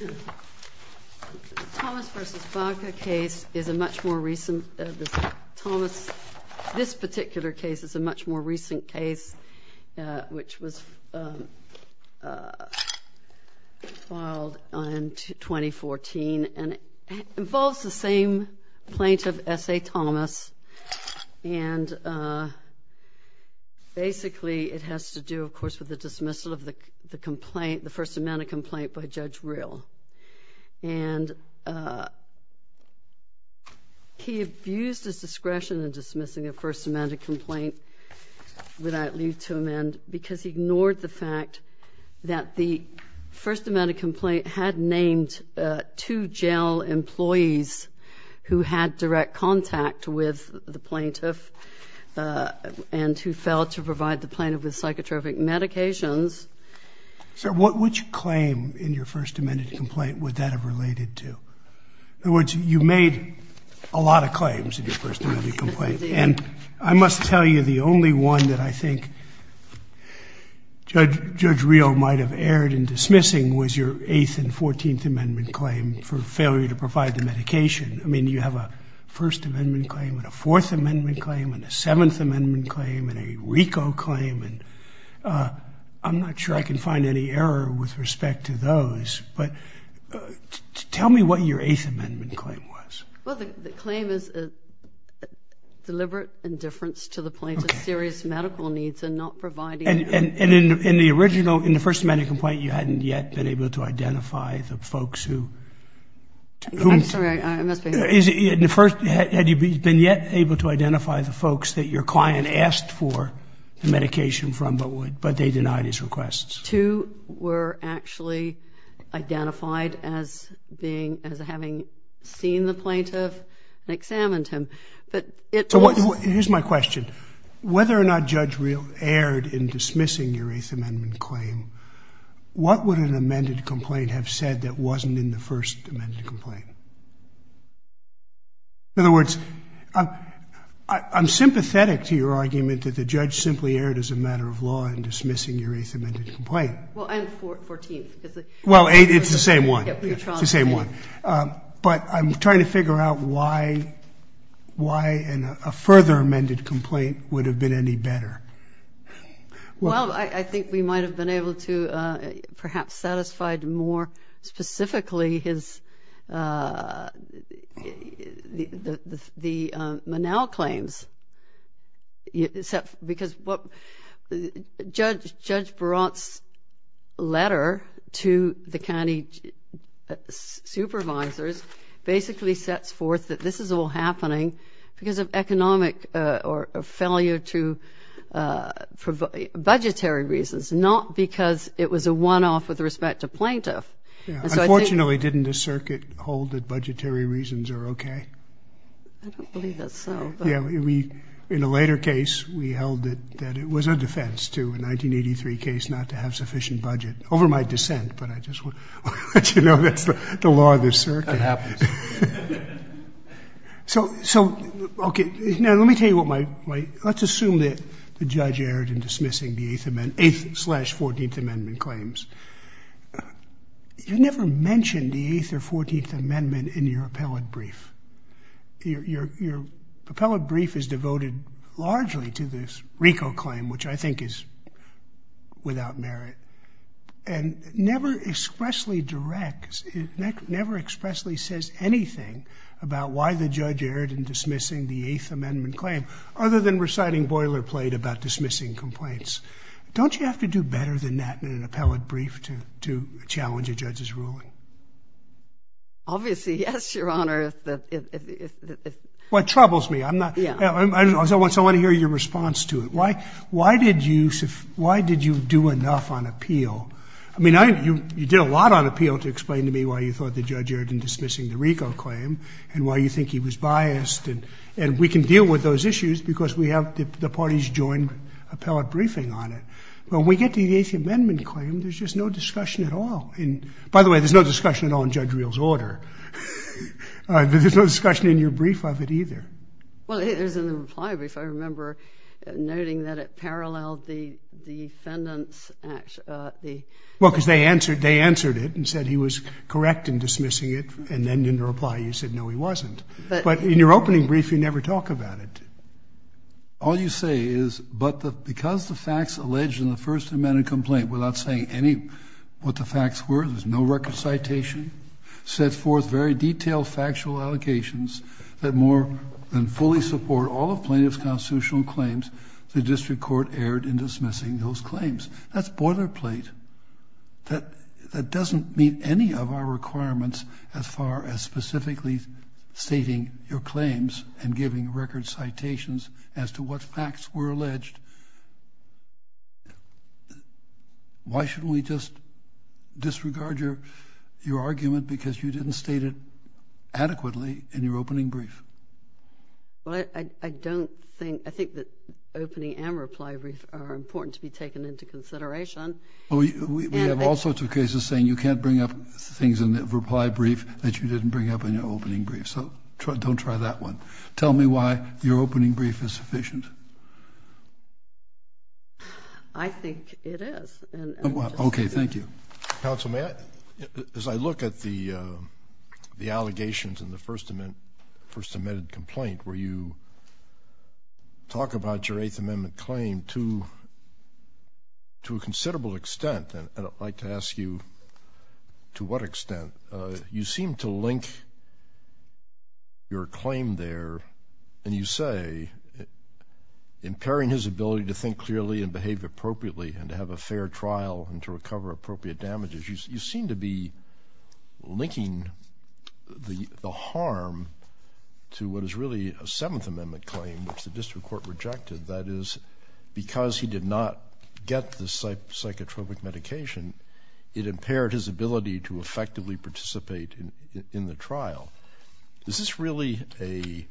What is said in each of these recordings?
The Thomas v. Baca case is a much more recent case, which was filed in 2014. It involves the same plaintiff, S.A. Thomas, and basically it has to do, of course, with the dismissal of the complaint, the First Amendment complaint by Judge Rill. And he abused his discretion in dismissing a First Amendment complaint without leave to amend because he ignored the fact that the First Amendment complaint had named two jail employees who had direct contact with the plaintiff and who failed to provide the plaintiff with psychotropic medications. So which claim in your First Amendment complaint would that have related to? In other words, you made a lot of claims in your First Amendment complaint, and I must tell you the only one that I think Judge Rill might have erred in dismissing was your Eighth and I mean, you have a First Amendment claim, and a Fourth Amendment claim, and a Seventh Amendment claim, and a RICO claim, and I'm not sure I can find any error with respect to those. But tell me what your Eighth Amendment claim was. Well, the claim is a deliberate indifference to the plaintiff's serious medical needs and not providing... And in the original, in the First Amendment complaint, you hadn't yet been able to identify the folks who... I'm sorry, I must be... In the first, had you been yet able to identify the folks that your client asked for the medication from but they denied his requests? Two were actually identified as being, as having seen the plaintiff and examined him. But it was... So here's my question. Whether or not Judge Rill erred in dismissing your Eighth Amendment claim, what would an amended complaint have said that wasn't in the First Amendment complaint? In other words, I'm sympathetic to your argument that the judge simply erred as a matter of law in dismissing your Eighth Amendment complaint. Well, and Fourteenth, because... Well, Eighth, it's the same one. Yeah, but you're wrong. It's the same one. But I'm trying to figure out why a further amended complaint would have been any better. Well, I think we might have been able to perhaps satisfied more specifically his... The Monell claims, because what... Judge Barant's letter to the county supervisors basically sets forth that this is all happening because of economic or failure to provide budgetary reasons, not because it was a one-off with respect to plaintiff. Unfortunately, didn't the circuit hold that budgetary reasons are okay? I don't believe that's so. Yeah, we, in a later case, we held that it was a defense to a 1983 case not to have sufficient budget, over my dissent, but I just want to let you know that's the law of the circuit. That happens. So, okay, now let me tell you what my... Let's assume that the judge erred in dismissing the Eighth slash Fourteenth Amendment claims. You never mention the Eighth or Fourteenth Amendment in your appellate brief. Your appellate brief is devoted largely to this RICO claim, which I think is without merit, and never expressly directs, never expressly says anything about why the judge erred in dismissing the Eighth Amendment claim, other than reciting boilerplate about dismissing complaints. Don't you have to do better than that in an appellate brief to challenge a judge's ruling? Obviously, yes, Your Honor. Well, it troubles me. I want to hear your response to it. Why did you do enough on appeal? I mean, you did a lot on appeal to explain to me why you thought the judge erred in dismissing the RICO claim and why you think he was biased, and we can deal with those issues because we have the party's joint appellate briefing on it. When we get to the Eighth Amendment claim, there's just no discussion at all. By the way, there's no discussion at all in Judge Reel's order. There's no discussion in your brief of it either. Well, it is in the reply brief. I remember noting that it paralleled the defendant's action. Well, because they answered it and said he was correct in dismissing it, and then in the reply you said, no, he wasn't. But in your opening brief, you never talk about it. All you say is, but because the facts alleged in the First Amendment complaint, without saying any what the facts were, there's no record citation, set forth very detailed factual allocations that more than fully support all of plaintiff's constitutional claims, the district court erred in dismissing those claims. That's boilerplate. That doesn't meet any of our requirements as far as specifically stating your claims and giving record citations as to what facts were alleged. Why shouldn't we just disregard your argument because you didn't state it adequately in your opening brief? Well, I think that opening and reply brief are important to be taken into consideration. We have all sorts of cases saying you can't bring up things in the reply brief that you didn't bring up in your opening brief. So don't try that one. Tell me why your opening brief is sufficient. I think it is. Okay. Thank you. Counsel, as I look at the allegations in the First Amendment complaint where you talk about your Eighth Amendment claim to a considerable extent, and I'd like to ask you to what extent, you seem to link your claim there and you say impairing his ability to think clearly and behave appropriately and to have a fair trial and to recover appropriate damages. You seem to be linking the harm to what is really a Seventh Amendment claim, which the district court rejected, that is because he did not get the psychotropic medication, and it impaired his ability to effectively participate in the trial. Is this really a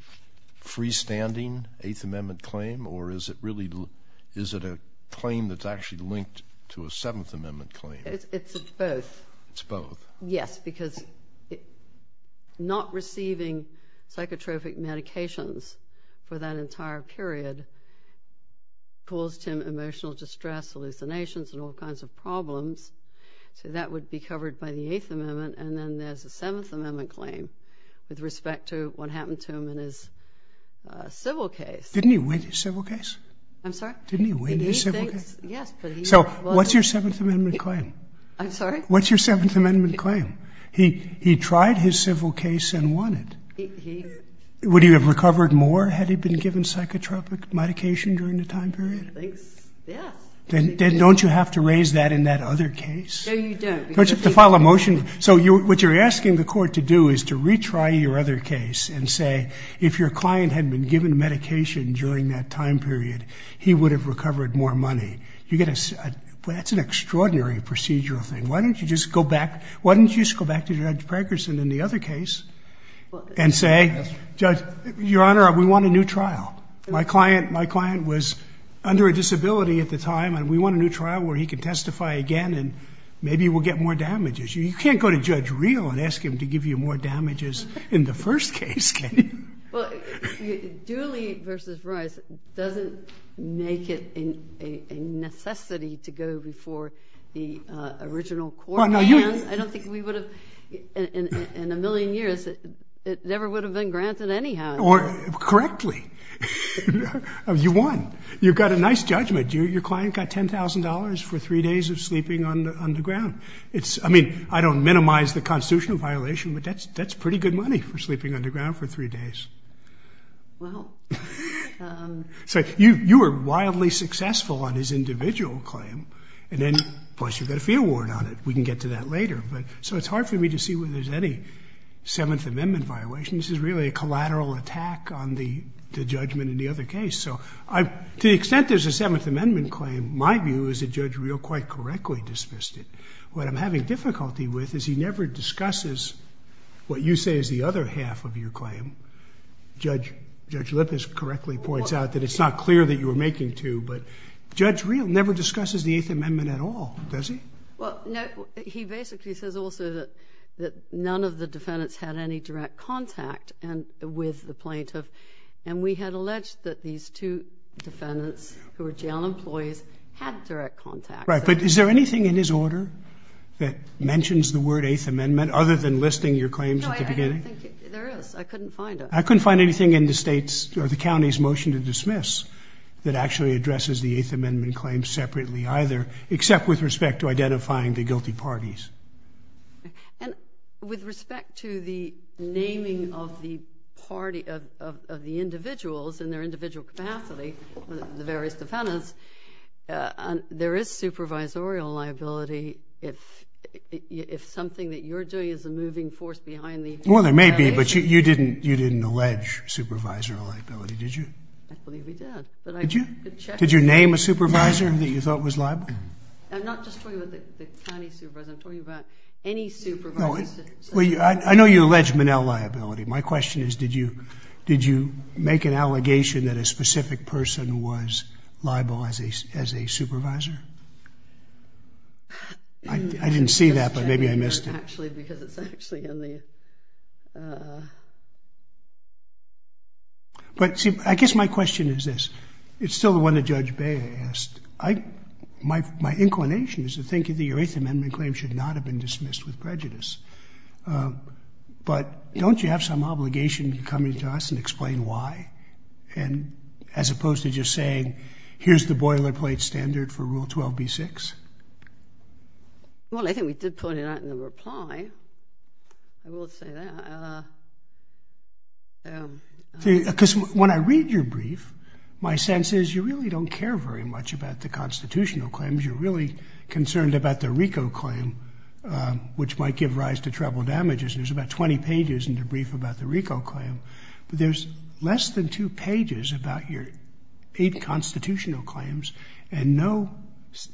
freestanding Eighth Amendment claim, or is it a claim that's actually linked to a Seventh Amendment claim? It's both. It's both. Yes, because not receiving psychotropic medications for that entire period caused him emotional distress, hallucinations, and all kinds of problems. So that would be covered by the Eighth Amendment, and then there's a Seventh Amendment claim with respect to what happened to him in his civil case. Didn't he win his civil case? I'm sorry? Didn't he win his civil case? Yes, but he won. So what's your Seventh Amendment claim? I'm sorry? What's your Seventh Amendment claim? He tried his civil case and won it. Would he have recovered more had he been given psychotropic medication during the time period? Then don't you have to raise that in that other case? No, you don't. Don't you have to file a motion? So what you're asking the court to do is to retry your other case and say, if your client had been given medication during that time period, he would have recovered more money. That's an extraordinary procedural thing. Why don't you just go back to Judge Pagerson in the other case and say, Judge, Your Honor, we want a new trial. My client was under a disability at the time, and we want a new trial where he can testify again and maybe we'll get more damages. You can't go to Judge Reel and ask him to give you more damages in the first case, can you? Well, Dooley v. Rice doesn't make it a necessity to go before the original court. I don't think we would have, in a million years, it never would have been granted anyhow. Correctly. You won. You've got a nice judgment. Your client got $10,000 for three days of sleeping underground. I mean, I don't minimize the constitutional violation, but that's pretty good money for sleeping underground for three days. So you were wildly successful on his individual claim, and then plus you've got a fee award on it. We can get to that later. So it's hard for me to see where there's any Seventh Amendment violations. This is really a collateral attack on the judgment in the other case. So to the extent there's a Seventh Amendment claim, my view is that Judge Reel quite correctly dismissed it. What I'm having difficulty with is he never discusses what you say is the other half of your claim. Judge Lippis correctly points out that it's not clear that you were making two, but Judge Reel never discusses the Eighth Amendment at all, does he? Well, no. He basically says also that none of the defendants had any direct contact with the plaintiff, and we had alleged that these two defendants who were jail employees had direct contact. Right. But is there anything in his order that mentions the word Eighth Amendment, other than listing your claims at the beginning? No, I don't think there is. I couldn't find it. I couldn't find anything in the state's or the county's motion to dismiss that actually addresses the Eighth Amendment claim separately either, except with respect to identifying the guilty parties. And with respect to the naming of the individuals in their individual capacity, the various defendants, there is supervisorial liability if something that you're doing is a moving force behind the defendants. Well, there may be, but you didn't allege supervisorial liability, did you? I believe we did. Did you? Did you name a supervisor that you thought was liable? I'm not just talking about the county supervisor. I'm talking about any supervisor. I know you allege Manel liability. My question is did you make an allegation that a specific person was liable as a supervisor? I didn't see that, but maybe I missed it. No, actually, because it's actually in the... But, see, I guess my question is this. It's still the one that Judge Bayer asked. My inclination is to think that the Eighth Amendment claim should not have been dismissed with prejudice. But don't you have some obligation to come to us and explain why, as opposed to just saying, here's the boilerplate standard for Rule 12b-6? Well, I think we did point it out in the reply. I will say that. See, because when I read your brief, my sense is you really don't care very much about the constitutional claims. You're really concerned about the RICO claim, which might give rise to treble damages. There's about 20 pages in the brief about the RICO claim, but there's less than two pages about your eight constitutional claims and no,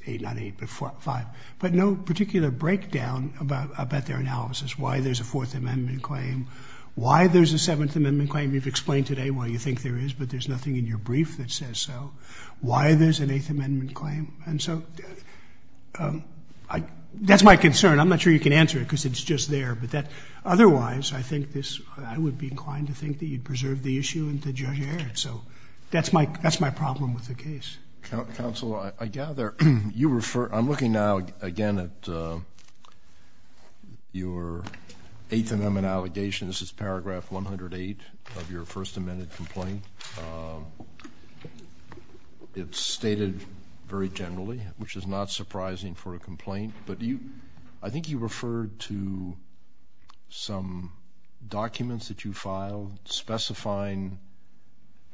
not eight, but five, but no particular breakdown about their analysis, why there's a Fourth Amendment claim, why there's a Seventh Amendment claim. You've explained today why you think there is, but there's nothing in your brief that says so. Why there's an Eighth Amendment claim. And so that's my concern. I'm not sure you can answer it because it's just there. But otherwise, I think this, I would be inclined to think that you'd preserve the issue and to judge it. So that's my problem with the case. Counsel, I gather you refer, I'm looking now, again, at your Eighth Amendment allegations. This is paragraph 108 of your First Amendment complaint. It's stated very generally, which is not surprising for a complaint. But I think you referred to some documents that you filed specifying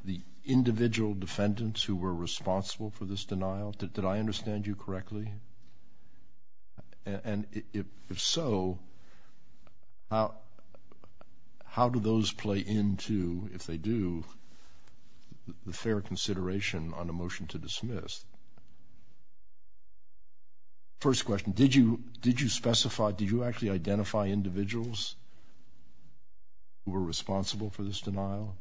the individual defendants who were responsible for this denial. Did I understand you correctly? And if so, how do those play into, if they do, the fair consideration on a motion to dismiss? First question, did you specify, did you actually identify individuals who were responsible for this denial?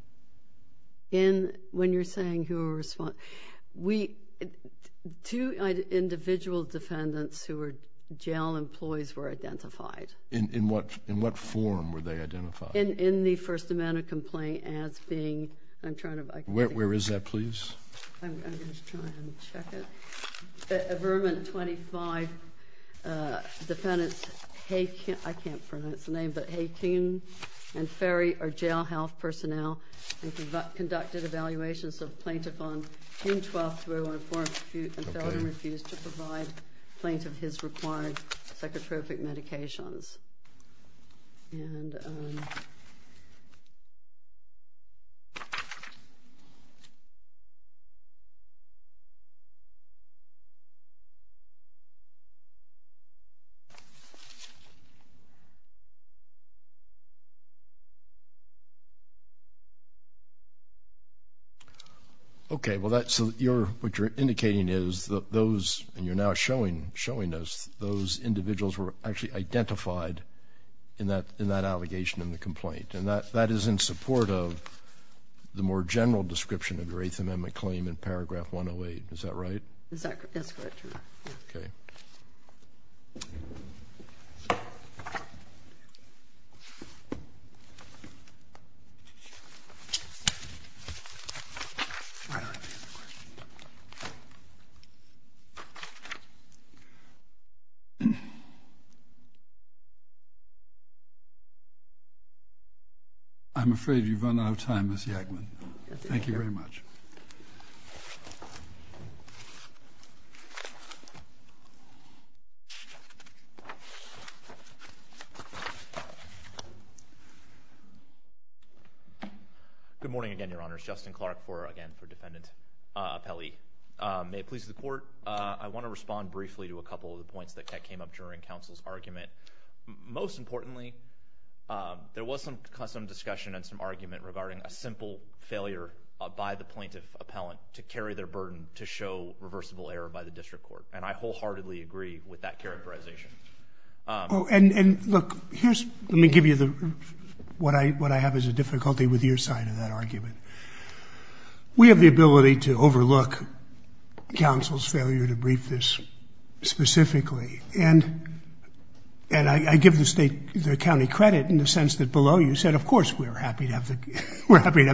When you're saying who were responsible, two individual defendants who were jail employees were identified. In what form were they identified? In the First Amendment complaint as being, I'm trying to, I can't think. Where is that, please? I'm going to try and check it. Avermint 25 defendants, I can't pronounce the name, but Haken and Ferry are jail health personnel and conducted evaluations of plaintiff on June 12th, 2001, for and refused to provide plaintiff his required psychotropic medications. And... Okay, well that's, what you're indicating is that those, and you're now showing us those individuals were actually identified in that allegation in the complaint. And that is in support of the more general description of your Eighth Amendment claim in paragraph 108. Is that right? That's quite true. Okay. I'm afraid you've run out of time, Ms. Yackman. Thank you very much. Good morning again, Your Honor. It's Justin Clark for, again, for Defendant Pelley. I want to respond briefly to a couple of the points that came up during counsel's argument. Most importantly, there was some discussion and some argument regarding a simple failure by the plaintiff appellant to carry their burden to show reversible error by the district court. And I wholeheartedly agree with that characterization. And look, let me give you what I have as a difficulty with your side of that argument. We have the ability to overlook counsel's failure to brief this specifically. And I give the county credit in the sense that below you said, of course, we're happy to have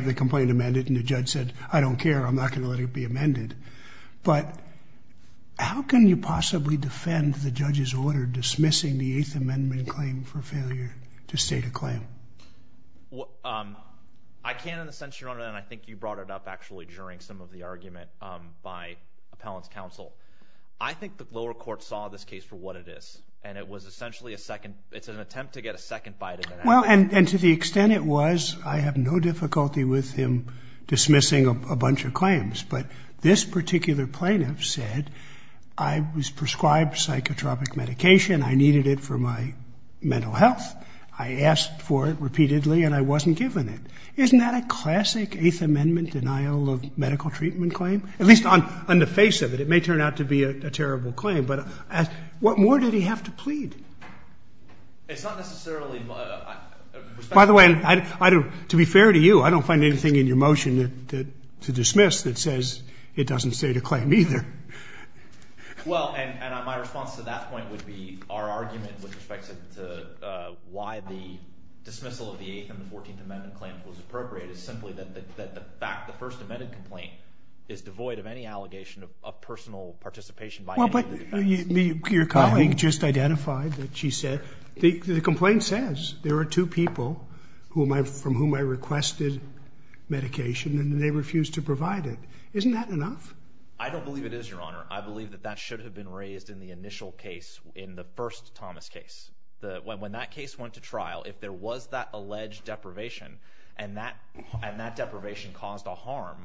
the complaint amended. And the judge said, I don't care. I'm not going to let it be amended. But how can you possibly defend the judge's order dismissing the Eighth Amendment claim for failure to state a claim? I can in the sense, Your Honor, and I think you brought it up actually during some of the argument by appellant's counsel. I think the lower court saw this case for what it is. And it was essentially a second, it's an attempt to get a second bite at it. Well, and to the extent it was, I have no difficulty with him dismissing a bunch of claims. But this particular plaintiff said, I was prescribed psychotropic medication. I needed it for my mental health. I asked for it repeatedly and I wasn't given it. Isn't that a classic Eighth Amendment denial of medical treatment claim? At least on the face of it, it may turn out to be a terrible claim. But what more did he have to plead? It's not necessarily. By the way, to be fair to you, I don't find anything in your motion to dismiss that says it doesn't state a claim either. Well, and my response to that point would be our argument with respect to why the dismissal of the Eighth and the Fourteenth Amendment claims was appropriate is simply that the first amended complaint is devoid of any allegation of personal participation by any of the defendants. Well, but your colleague just identified that she said, the complaint says there are two people from whom I requested medication and they refused to provide it. Isn't that enough? I don't believe it is, Your Honor. I believe that that should have been raised in the initial case, in the first Thomas case. When that case went to trial, if there was that alleged deprivation and that deprivation caused a harm,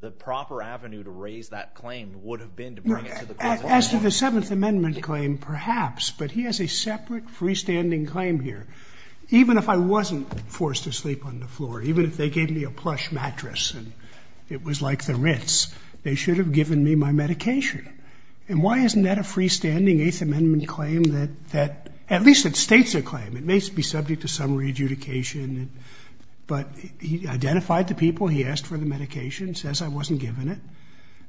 the proper avenue to raise that claim would have been to bring it to the court. As to the Seventh Amendment claim, perhaps, but he has a separate freestanding claim here. Even if I wasn't forced to sleep on the floor, even if they gave me a plush mattress and it was like the Ritz, they should have given me my medication. And why isn't that a freestanding Eighth Amendment claim that, at least it states a claim. It may be subject to some re-adjudication, but he identified the people, he asked for the medication, says I wasn't given it,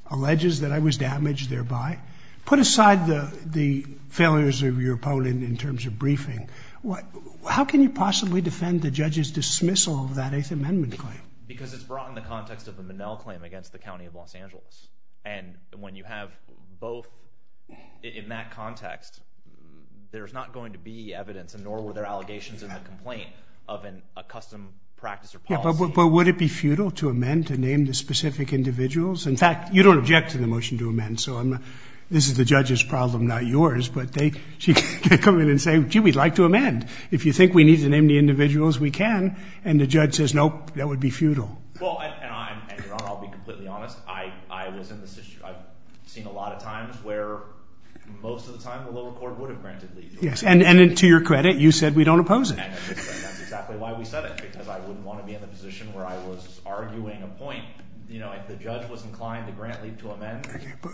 alleges that I was damaged thereby. Put aside the failures of your opponent in terms of briefing, how can you possibly defend the judge's dismissal of that Eighth Amendment claim? Because it's brought in the context of the Minnell claim against the County of Los Angeles. And when you have both in that context, there's not going to be evidence, nor were there allegations in the complaint of a custom practice or policy. But would it be futile to amend to name the specific individuals? In fact, you don't object to the motion to amend, so this is the judge's problem, not yours. But they come in and say, gee, we'd like to amend. If you think we need to name the individuals, we can. And the judge says, nope, that would be futile. Well, and Your Honor, I'll be completely honest. I've seen a lot of times where most of the time the lower court would have granted leave. Yes, and to your credit, you said we don't oppose it. And that's exactly why we said it, because I wouldn't want to be in the position where I was arguing a point. You know, if the judge was inclined to grant leave to amend,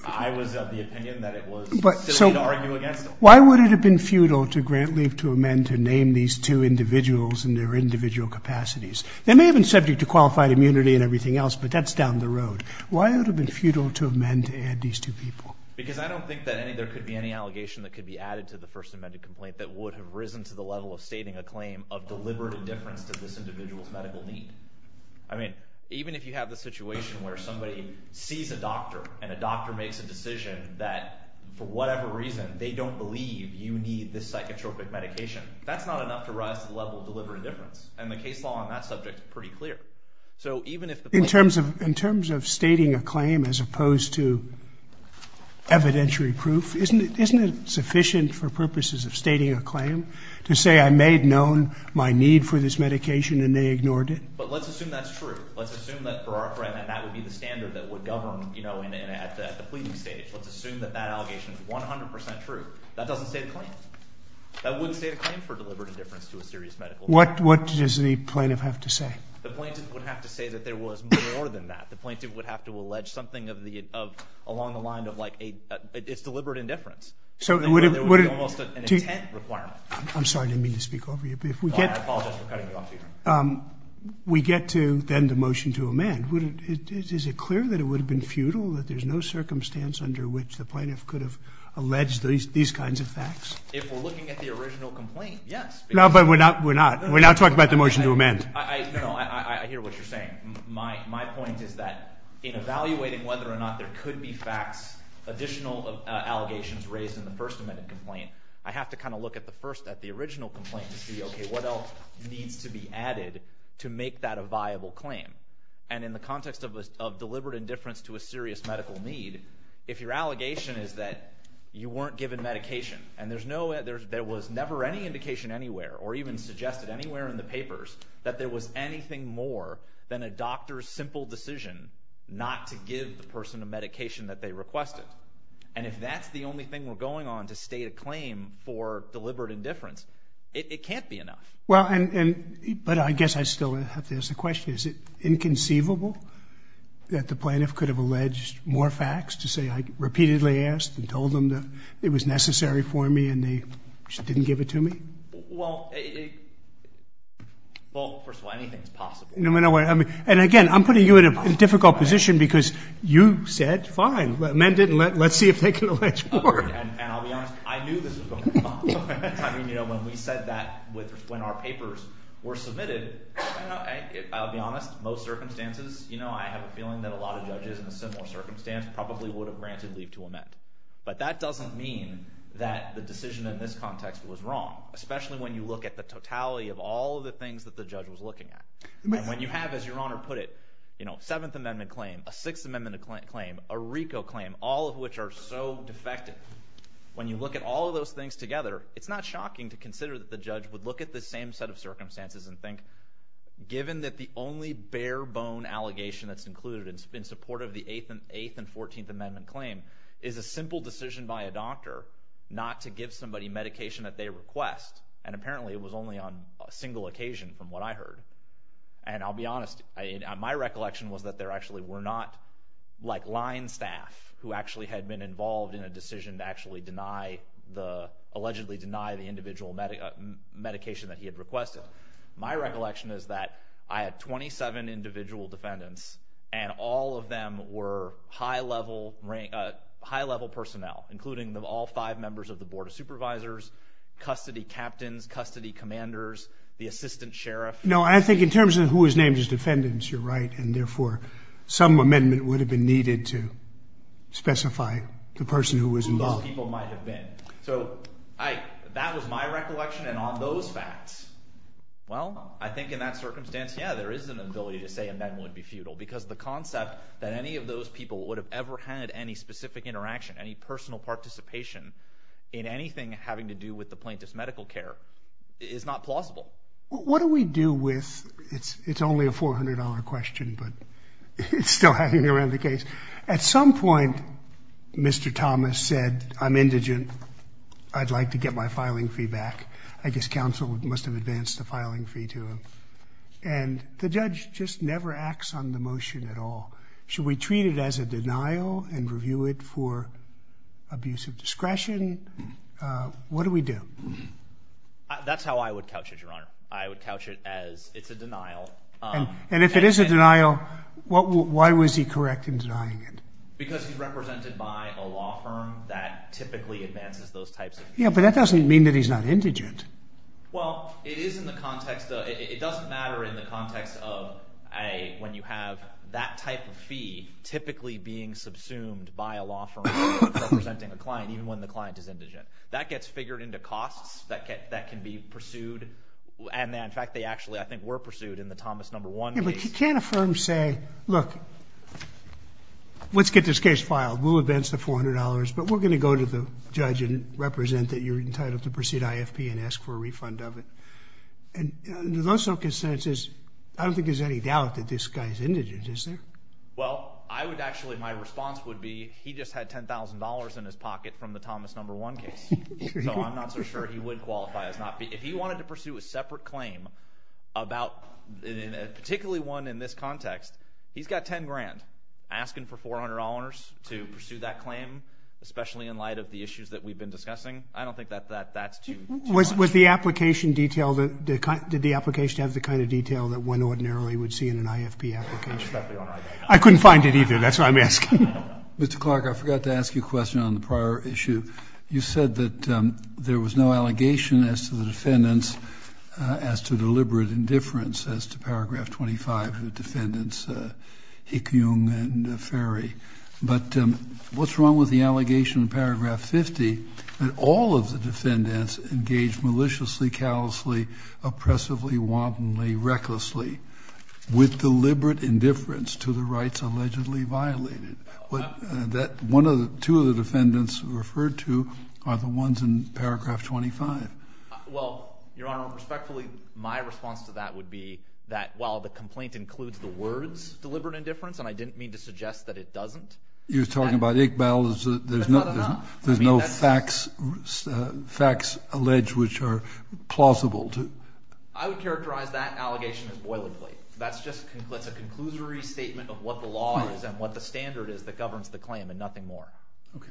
I was of the opinion that it was silly to argue against it. Why would it have been futile to grant leave to amend to name these two individuals and their individual capacities? They may have been subject to qualified immunity and everything else, but that's down the road. Why would it have been futile to amend to add these two people? Because I don't think that there could be any allegation that could be added to the First Amendment complaint that would have risen to the level of stating a claim of deliberate indifference to this individual's medical need. I mean, even if you have the situation where somebody sees a doctor and a doctor makes a decision that for whatever reason they don't believe you need this psychotropic medication, that's not enough to rise to the level of deliberate indifference. And the case law on that subject is pretty clear. So even if the plaintiff... In terms of stating a claim as opposed to evidentiary proof, isn't it sufficient for purposes of stating a claim to say I made known my need for this medication and they ignored it? But let's assume that's true. Let's assume that for our friend that that would be the standard that would govern, you know, at the pleading stage. Let's assume that that allegation is 100% true. That doesn't state a claim. That wouldn't state a claim for deliberate indifference to a serious medical need. What does the plaintiff have to say? The plaintiff would have to say that there was more than that. The plaintiff would have to allege something along the line of, like, it's deliberate indifference. It would be almost an intent requirement. I'm sorry, I didn't mean to speak over you. I apologize for cutting you off, Your Honor. We get to then the motion to amend. Is it clear that it would have been futile, that there's no circumstance under which the plaintiff could have alleged these kinds of facts? If we're looking at the original complaint, yes. No, but we're not talking about the motion to amend. No, no, I hear what you're saying. My point is that in evaluating whether or not there could be facts, additional allegations raised in the First Amendment complaint, I have to kind of look at the original complaint to see, okay, what else needs to be added to make that a viable claim? And in the context of deliberate indifference to a serious medical need, if your allegation is that you weren't given medication and there was never any indication anywhere or even suggested anywhere in the papers that there was anything more than a doctor's simple decision not to give the person a medication that they requested, and if that's the only thing we're going on to state a claim for deliberate indifference, it can't be enough. But I guess I still have to ask the question, is it inconceivable that the plaintiff could have alleged more facts to say I repeatedly asked and told them that it was necessary for me and they just didn't give it to me? Well, first of all, anything is possible. And again, I'm putting you in a difficult position because you said fine, amend it and let's see if they can allege more. And I'll be honest, I knew this was going to come up. I mean, when we said that when our papers were submitted, I'll be honest, most circumstances, I have a feeling that a lot of judges in a similar circumstance probably would have granted leave to amend. But that doesn't mean that the decision in this context was wrong, especially when you look at the totality of all of the things that the judge was looking at. And when you have, as Your Honor put it, a Seventh Amendment claim, a Sixth Amendment claim, a RICO claim, all of which are so defective, when you look at all of those things together, it's not shocking to consider that the judge would look at the same set of circumstances and think, given that the only bare-bone allegation that's included in support of the Eighth and Fourteenth Amendment claim is a simple decision by a doctor not to give somebody medication that they request. And apparently it was only on a single occasion from what I heard. And I'll be honest, my recollection was that there actually were not, like, line staff who actually had been involved in a decision to actually allegedly deny the individual medication that he had requested. My recollection is that I had 27 individual defendants and all of them were high-level personnel, including all five members of the Board of Supervisors, custody captains, custody commanders, the assistant sheriff. No, I think in terms of who was named as defendants, you're right, and therefore some amendment would have been needed to specify the person who was involved. Who those people might have been. So that was my recollection, and on those facts, well, I think in that circumstance, yeah, there is an ability to say amendment would be futile because the concept that any of those people would have ever had any specific interaction, any personal participation in anything having to do with the plaintiff's medical care is not plausible. What do we do with, it's only a $400 question, but it's still hanging around the case. At some point, Mr. Thomas said, I'm indigent, I'd like to get my filing fee back. I guess counsel must have advanced the filing fee to him. And the judge just never acts on the motion at all. Should we treat it as a denial and review it for abuse of discretion? What do we do? That's how I would couch it, Your Honor. I would couch it as it's a denial. And if it is a denial, why was he correct in denying it? Because he's represented by a law firm that typically advances those types of cases. Yeah, but that doesn't mean that he's not indigent. Well, it is in the context of, it doesn't matter in the context of when you have that type of fee typically being subsumed by a law firm representing a client, even when the client is indigent. That gets figured into costs that can be pursued. And in fact, they actually, I think, were pursued in the Thomas number one case. Yeah, but you can't a firm say, look, let's get this case filed. We'll advance the $400, but we're going to go to the judge and represent that you're entitled to proceed IFP and ask for a refund of it. And there's also consensus, I don't think there's any doubt that this guy's indigent, is there? Well, I would actually, my response would be he just had $10,000 in his pocket from the Thomas number one case. So I'm not so sure he would qualify as not. If he wanted to pursue a separate claim about, particularly one in this context, he's got $10,000. Asking for $400 to pursue that claim, especially in light of the issues that we've been discussing, I don't think that that's too much. Was the application detailed? Did the application have the kind of detail that one ordinarily would see in an IFP application? I couldn't find it either. That's what I'm asking. Mr. Clark, I forgot to ask you a question on the prior issue. You said that there was no allegation as to the defendants as to deliberate indifference as to paragraph 25 of the defendants, Hick, Jung, and Ferry. But what's wrong with the allegation in paragraph 50 that all of the defendants engaged maliciously, callously, oppressively, wantonly, recklessly with deliberate indifference to the rights allegedly violated? That two of the defendants referred to are the ones in paragraph 25. Well, Your Honor, respectfully, my response to that would be that while the complaint includes the words deliberate indifference, and I didn't mean to suggest that it doesn't. You're talking about Hick, Bell. There's no facts alleged which are plausible. I would characterize that allegation as boilerplate. That's a conclusory statement of what the law is and what the standard is that governs the claim and nothing more. Okay.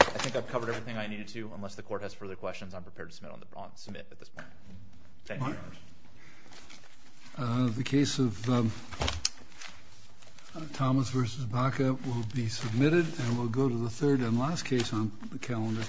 I think I've covered everything I needed to unless the court has further questions I'm prepared to submit at this point. Thank you, Your Honor. The case of Thomas v. Baca will be submitted and we'll go to the third and last case on the calendar.